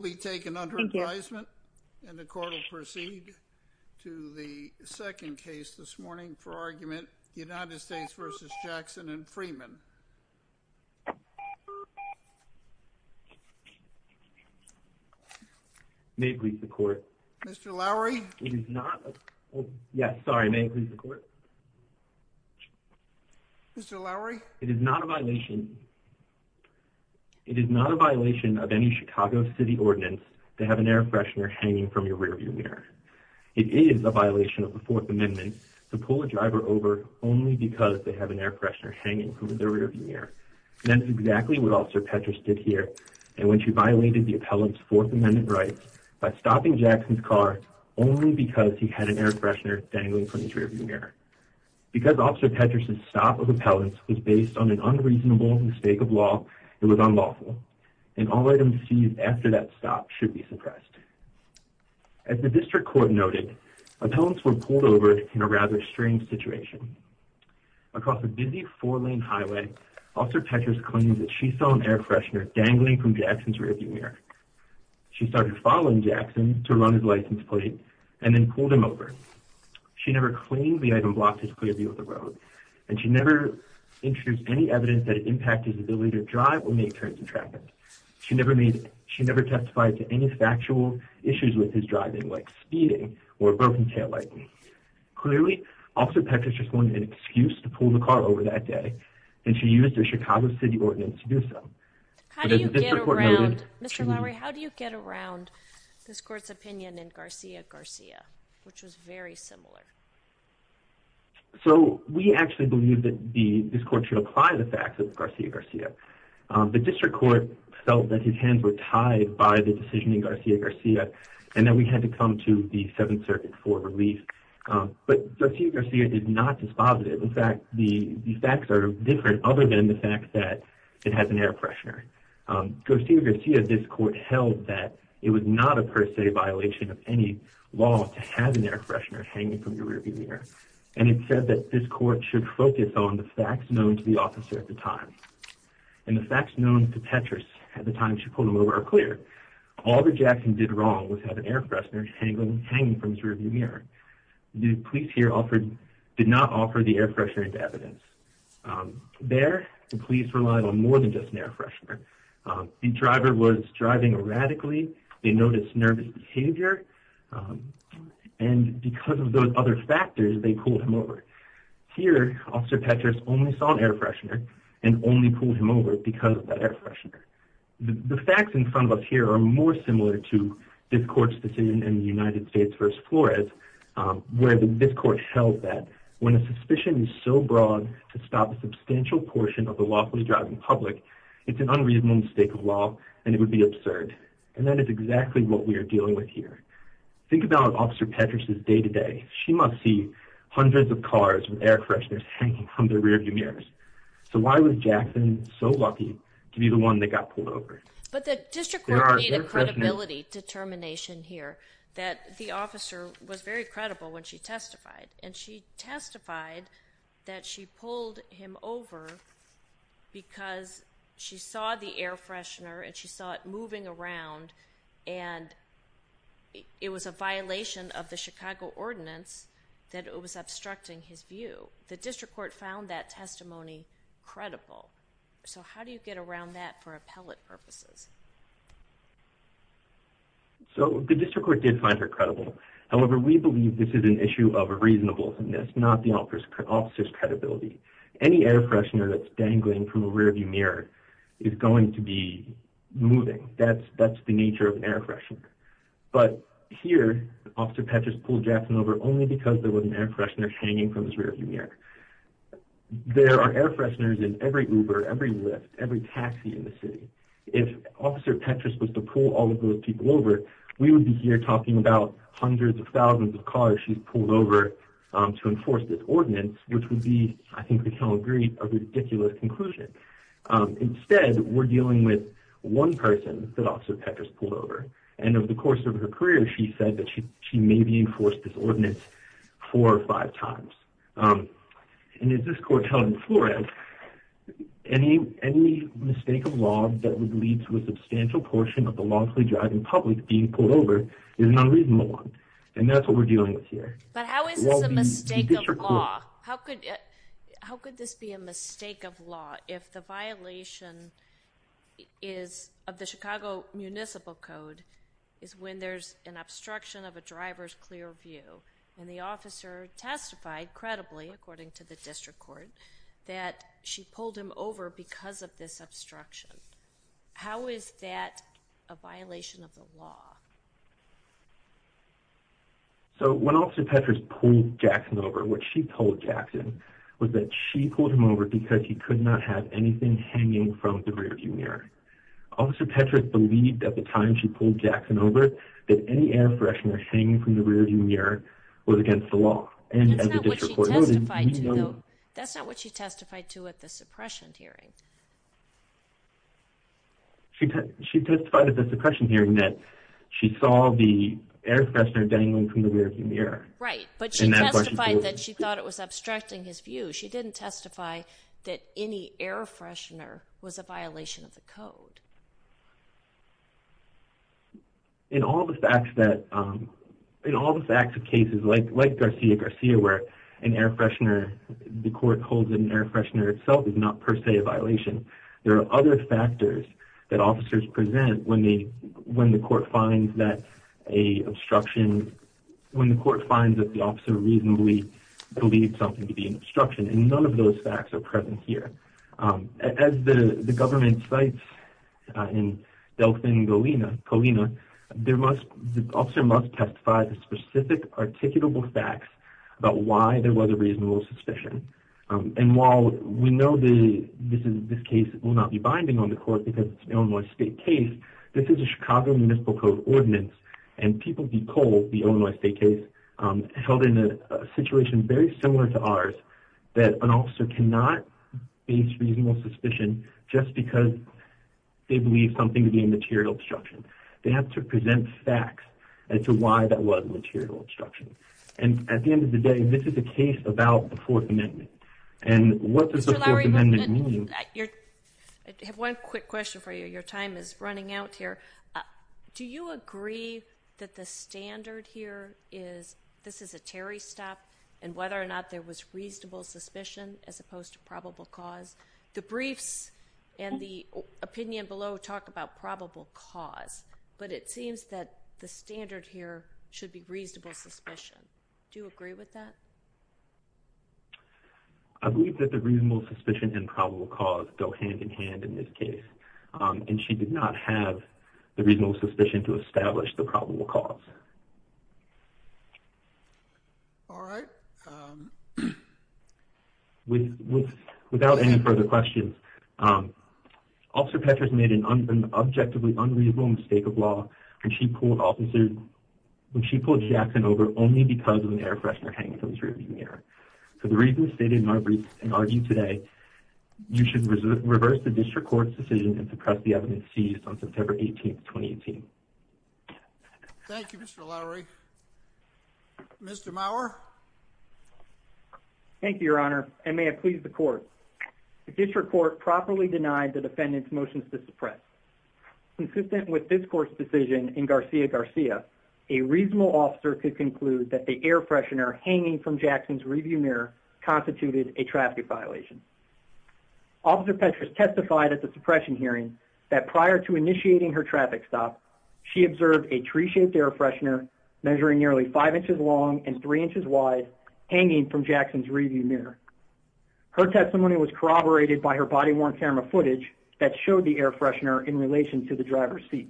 The court will proceed to the second case this morning for argument, United States v. Jackson and Freeman. May it please the court. Mr. Lowery? It is not a... Yes, sorry. May it please the court. Mr. Lowery? It is not a violation of any Chicago City Ordinance to have an air freshener hanging from your rearview mirror. It is a violation of the Fourth Amendment to pull a driver over only because they have an air freshener hanging from their rearview mirror. And that's exactly what Officer Petras did here, in which he violated the appellant's Fourth Amendment rights by stopping Jackson's car only because he had an air freshener dangling from his rearview mirror. Because Officer Petras' stop of appellants was based on an unreasonable mistake of law, it was unlawful, and all items seized after that stop should be suppressed. As the district court noted, appellants were pulled over in a rather strange situation. Across a busy four-lane highway, Officer Petras claimed that she saw an air freshener dangling from Jackson's rearview mirror. She started following Jackson to run his license plate and then pulled him over. She never claimed the item blocked his clear view of the road, and she never introduced any evidence that it impacted his ability to drive or make turns in traffic. She never testified to any factual issues with his driving, like speeding or a broken taillight. Clearly, Officer Petras just wanted an excuse to pull the car over that day, and she used her Chicago City Ordinance to do so. But as the district court noted, she... So, we actually believe that this court should apply the facts of Garcia-Garcia. The district court felt that his hands were tied by the decision in Garcia-Garcia, and that we had to come to the Seventh Circuit for relief. But Garcia-Garcia did not dispose of it. In fact, the facts are different other than the fact that it has an air freshener. Garcia-Garcia, this court held that it was not a per se violation of any law to have an air freshener hanging from your rearview mirror, and it said that this court should focus on the facts known to the officer at the time. And the facts known to Petras at the time she pulled him over are clear. All that Jackson did wrong was have an air freshener hanging from his rearview mirror. The police here did not offer the air freshener as evidence. There, the police relied on more than just an air freshener. The driver was driving erratically, they noticed nervous behavior. And because of those other factors, they pulled him over. Here, Officer Petras only saw an air freshener and only pulled him over because of that air freshener. The facts in front of us here are more similar to this court's decision in the United States v. Flores, where this court held that when a suspicion is so broad to stop a substantial portion of the lawfully driving public, it's an unreasonable mistake of law and it would be absurd. And that is exactly what we are dealing with here. Think about Officer Petras' day-to-day. She must see hundreds of cars with air fresheners hanging from their rearview mirrors. So why was Jackson so lucky to be the one that got pulled over? But the district court made a credibility determination here that the officer was very credible when she testified. And she testified that she pulled him over because she saw the air freshener and she saw it moving around and it was a violation of the Chicago Ordinance that it was obstructing his view. The district court found that testimony credible. So how do you get around that for appellate purposes? So the district court did find her credible. However, we believe this is an issue of a reasonableness, not the officer's credibility. Any air freshener that's dangling from a rearview mirror is going to be moving. That's the nature of an air freshener. But here, Officer Petras pulled Jackson over only because there was an air freshener hanging from his rearview mirror. There are air fresheners in every Uber, every Lyft, every taxi in the city. If Officer Petras was to pull all of those people over, we would be here talking about hundreds of thousands of cars she's pulled over to enforce this ordinance, which would be, I think we can all agree, a ridiculous conclusion. Instead, we're dealing with one person that Officer Petras pulled over. And over the course of her career, she said that she may be enforced this ordinance four or five times. And as this court held in Florence, any mistake of law that would lead to a substantial portion of the lawfully driving public being pulled over is an unreasonable one. And that's what we're dealing with here. But how is this a mistake of law? How could this be a mistake of law if the violation is of the Chicago Municipal Code is when there's an obstruction of a driver's clear view, and the officer testified, credibly, according to the district court, that she pulled him over because of this obstruction? So, when Officer Petras pulled Jackson over, what she pulled Jackson was that she pulled him over because he could not have anything hanging from the rearview mirror. Officer Petras believed at the time she pulled Jackson over that any air freshener hanging from the rearview mirror was against the law. And as the district court noted, we know... That's not what she testified to, though. That's not what she testified to at the suppression hearing. She testified at the suppression hearing that she saw the air freshener dangling from the rearview mirror. Right. But she testified that she thought it was obstructing his view. She didn't testify that any air freshener was a violation of the code. In all the facts that... In all the facts of cases like Garcia-Garcia, where an air freshener... There are other factors that officers present when the court finds that a obstruction... When the court finds that the officer reasonably believed something to be an obstruction, and none of those facts are present here. As the government cites in Delfin Covina, the officer must testify to specific articulable facts about why there was a reasonable suspicion. And while we know this case will not be binding on the court because it's an Illinois state case, this is a Chicago Municipal Code ordinance, and people decode the Illinois state case held in a situation very similar to ours, that an officer cannot base reasonable suspicion just because they believe something to be a material obstruction. They have to present facts as to why that was a material obstruction. And at the end of the day, this is a case about the Fourth Amendment. And what does the Fourth Amendment mean? Mr. Lowery, I have one quick question for you. Your time is running out here. Do you agree that the standard here is, this is a Terry stop, and whether or not there was reasonable suspicion as opposed to probable cause? The briefs and the opinion below talk about probable cause, but it seems that the standard here should be reasonable suspicion. Do you agree with that? I believe that the reasonable suspicion and probable cause go hand in hand in this case. And she did not have the reasonable suspicion to establish the probable cause. All right. Without any further questions, Officer Petras made an objectively unreasonable mistake of when she pulled Jackson over only because of an air freshener hanging from his rear view mirror. For the reasons stated in our briefs and argued today, you should reverse the District Court's decision and suppress the evidence seized on September 18, 2018. Thank you, Mr. Lowery. Mr. Mauer? Thank you, Your Honor, and may it please the Court. The District Court properly denied the defendant's motion to suppress. Consistent with this Court's decision in Garcia Garcia, a reasonable officer could conclude that the air freshener hanging from Jackson's rear view mirror constituted a traffic violation. Officer Petras testified at the suppression hearing that prior to initiating her traffic stop, she observed a tree-shaped air freshener measuring nearly 5 inches long and 3 inches wide hanging from Jackson's rear view mirror. Her testimony was corroborated by her body-worn camera footage that showed the air freshener in relation to the driver's seat.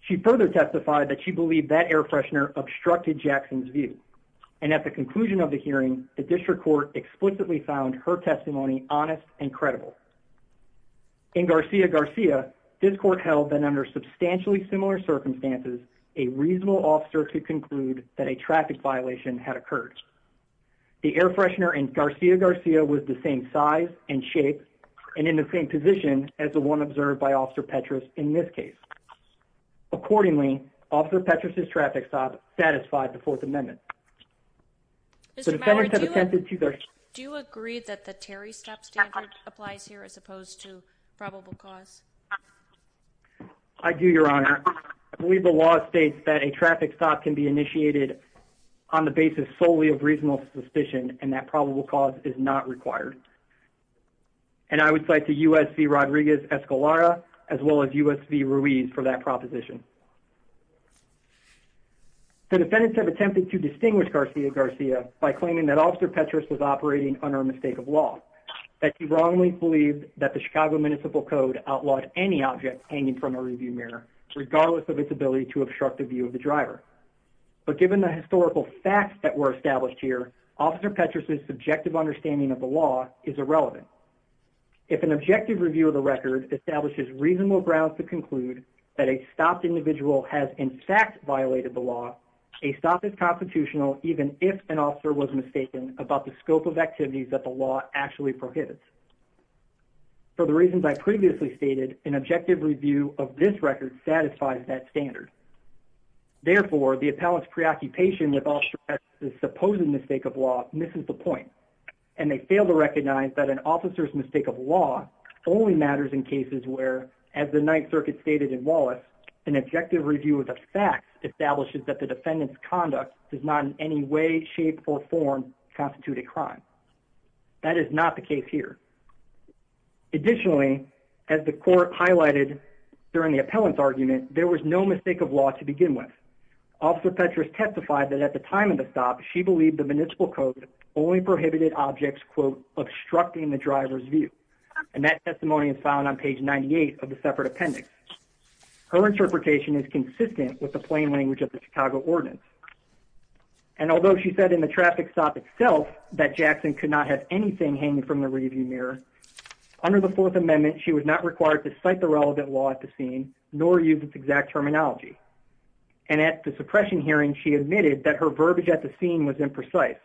She further testified that she believed that air freshener obstructed Jackson's view, and at the conclusion of the hearing, the District Court explicitly found her testimony honest and credible. In Garcia Garcia, this Court held that under substantially similar circumstances, a reasonable officer could conclude that a traffic violation had occurred. The air freshener in Garcia Garcia was the same size and shape and in the same position as the one observed by Officer Petras in this case. Accordingly, Officer Petras' traffic stop satisfied the Fourth Amendment. Do you agree that the Terry stop standard applies here as opposed to probable cause? I do, Your Honor. I believe the law states that a traffic stop can be initiated on the basis solely of reasonable suspicion, and that probable cause is not required. And I would cite to U.S.C. Rodriguez-Escalera as well as U.S.C. Ruiz for that proposition. The defendants have attempted to distinguish Garcia Garcia by claiming that Officer Petras was operating under a mistake of law, that she wrongly believed that the Chicago Municipal Code outlawed any object hanging from her rear view mirror, regardless of its ability to obstruct the view of the driver. But given the historical facts that were established here, Officer Petras' subjective understanding of the law is irrelevant. If an objective review of the record establishes reasonable grounds to conclude that a stopped individual has in fact violated the law, a stop is constitutional even if an officer was mistaken about the scope of activities that the law actually prohibits. For the reasons I previously stated, an objective review of this record satisfies that standard. Therefore, the appellant's preoccupation with Alstratz's supposed mistake of law misses the point, and they fail to recognize that an officer's mistake of law only matters in cases where, as the Ninth Circuit stated in Wallace, an objective review of the facts establishes that the defendant's conduct does not in any way, shape, or form constitute a crime. That is not the case here. In addition, there was no mistake of law to begin with. Officer Petras testified that at the time of the stop, she believed the Municipal Code only prohibited objects, quote, obstructing the driver's view. And that testimony is found on page 98 of the separate appendix. Her interpretation is consistent with the plain language of the Chicago Ordinance. And although she said in the traffic stop itself that Jackson could not have anything hanging from the rear view mirror, under the Fourth Amendment, she was not required to cite the relevant law at the scene, nor use its exact terminology. And at the suppression hearing, she admitted that her verbiage at the scene was imprecise,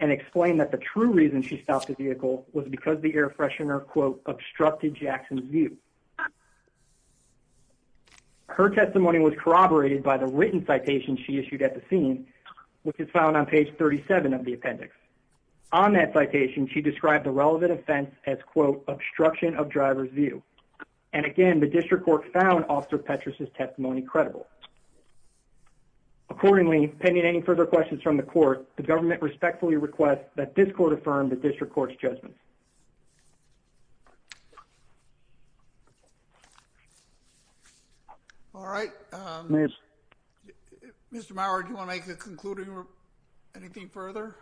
and explained that the true reason she stopped the vehicle was because the air freshener, quote, obstructed Jackson's view. Her testimony was corroborated by the written citation she issued at the scene, which is found on page 37 of the appendix. On that citation, she described the relevant offense as, quote, obstruction of driver's view. And again, the district court found Officer Petras' testimony credible. Accordingly, pending any further questions from the court, the government respectfully requests that this court affirm the district court's judgment. Thank you. All right. Mr. Maurer, do you want to make a concluding remark? Anything further?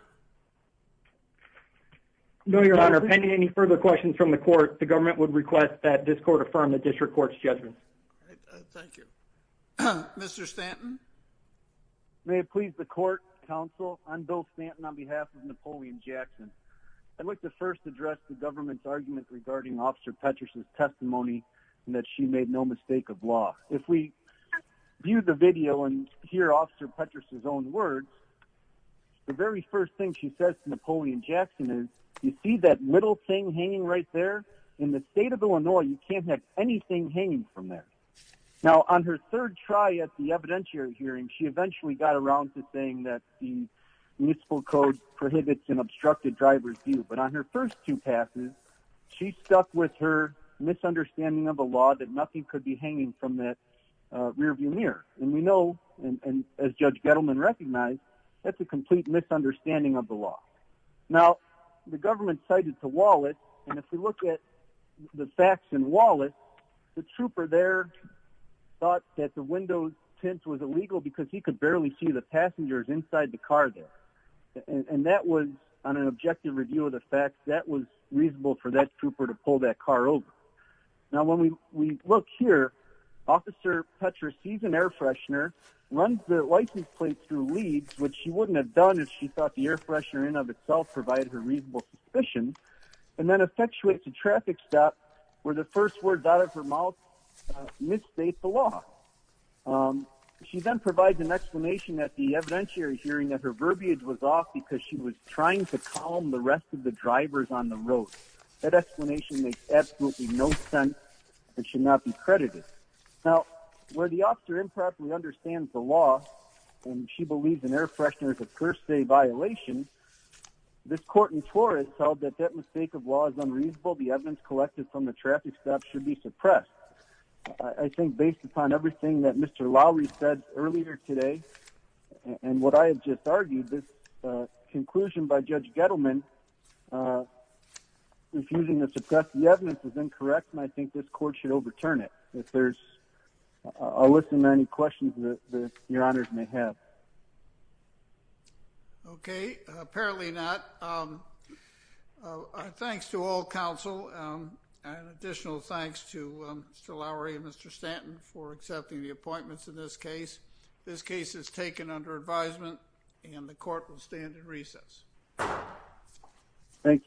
No, Your Honor. Pending any further questions from the court, the government would request that this court affirm the district court's judgment. Thank you. Mr. Stanton? May it please the court, counsel, I'm Bill Stanton on behalf of Napoleon Jackson. I'd like to first address the government's argument regarding Officer Petras' testimony in that she made no mistake of law. If we view the video and hear Officer Petras' own words, the very first thing she says to Napoleon Jackson is, you see that little thing hanging right there? In the state of Illinois, you can't have anything hanging from there. Now, on her third try at the evidentiary hearing, she eventually got around to saying that the municipal code prohibits an obstructed driver's view. But on her first two passes, she stuck with her misunderstanding of the law, that nothing could be hanging from that rear view mirror. And we know, as Judge Gettleman recognized, that's a complete misunderstanding of the law. Now, the government cited to Wallet, and if we look at the facts in Wallet, the trooper there thought that the window tint was illegal because he could barely see the passengers inside the car there. And that was, on an objective review of the facts, that was reasonable for that trooper to pull that car over. Now, when we look here, Officer Petras sees an air freshener, runs the license plate through leads, which she wouldn't have done if she thought the air freshener in and of itself provided her reasonable suspicion, and then effectuates a traffic stop where the first words out of her mouth misstate the law. She then provides an explanation at the evidentiary hearing that her verbiage was off because she was trying to calm the rest of the drivers on the road. That explanation makes absolutely no sense. It should not be credited. Now, where the officer improperly understands the law, and she believes an air freshener is a per se violation, this court in Torrance held that that mistake of law is unreasonable. The evidence collected from the traffic stop should be suppressed. I think based upon everything that Mr. Lowry said earlier today, and what I have just argued, this conclusion by Judge Gettleman, refusing to suppress the evidence is incorrect, and I think this court should overturn it. I'll listen to any questions that your honors may have. Okay. Apparently not. Thanks to all counsel. An additional thanks to Mr. Lowry and Mr. Stanton for accepting the appointments in this case. This case is taken under advisement, and the court will stand in recess. Thank you.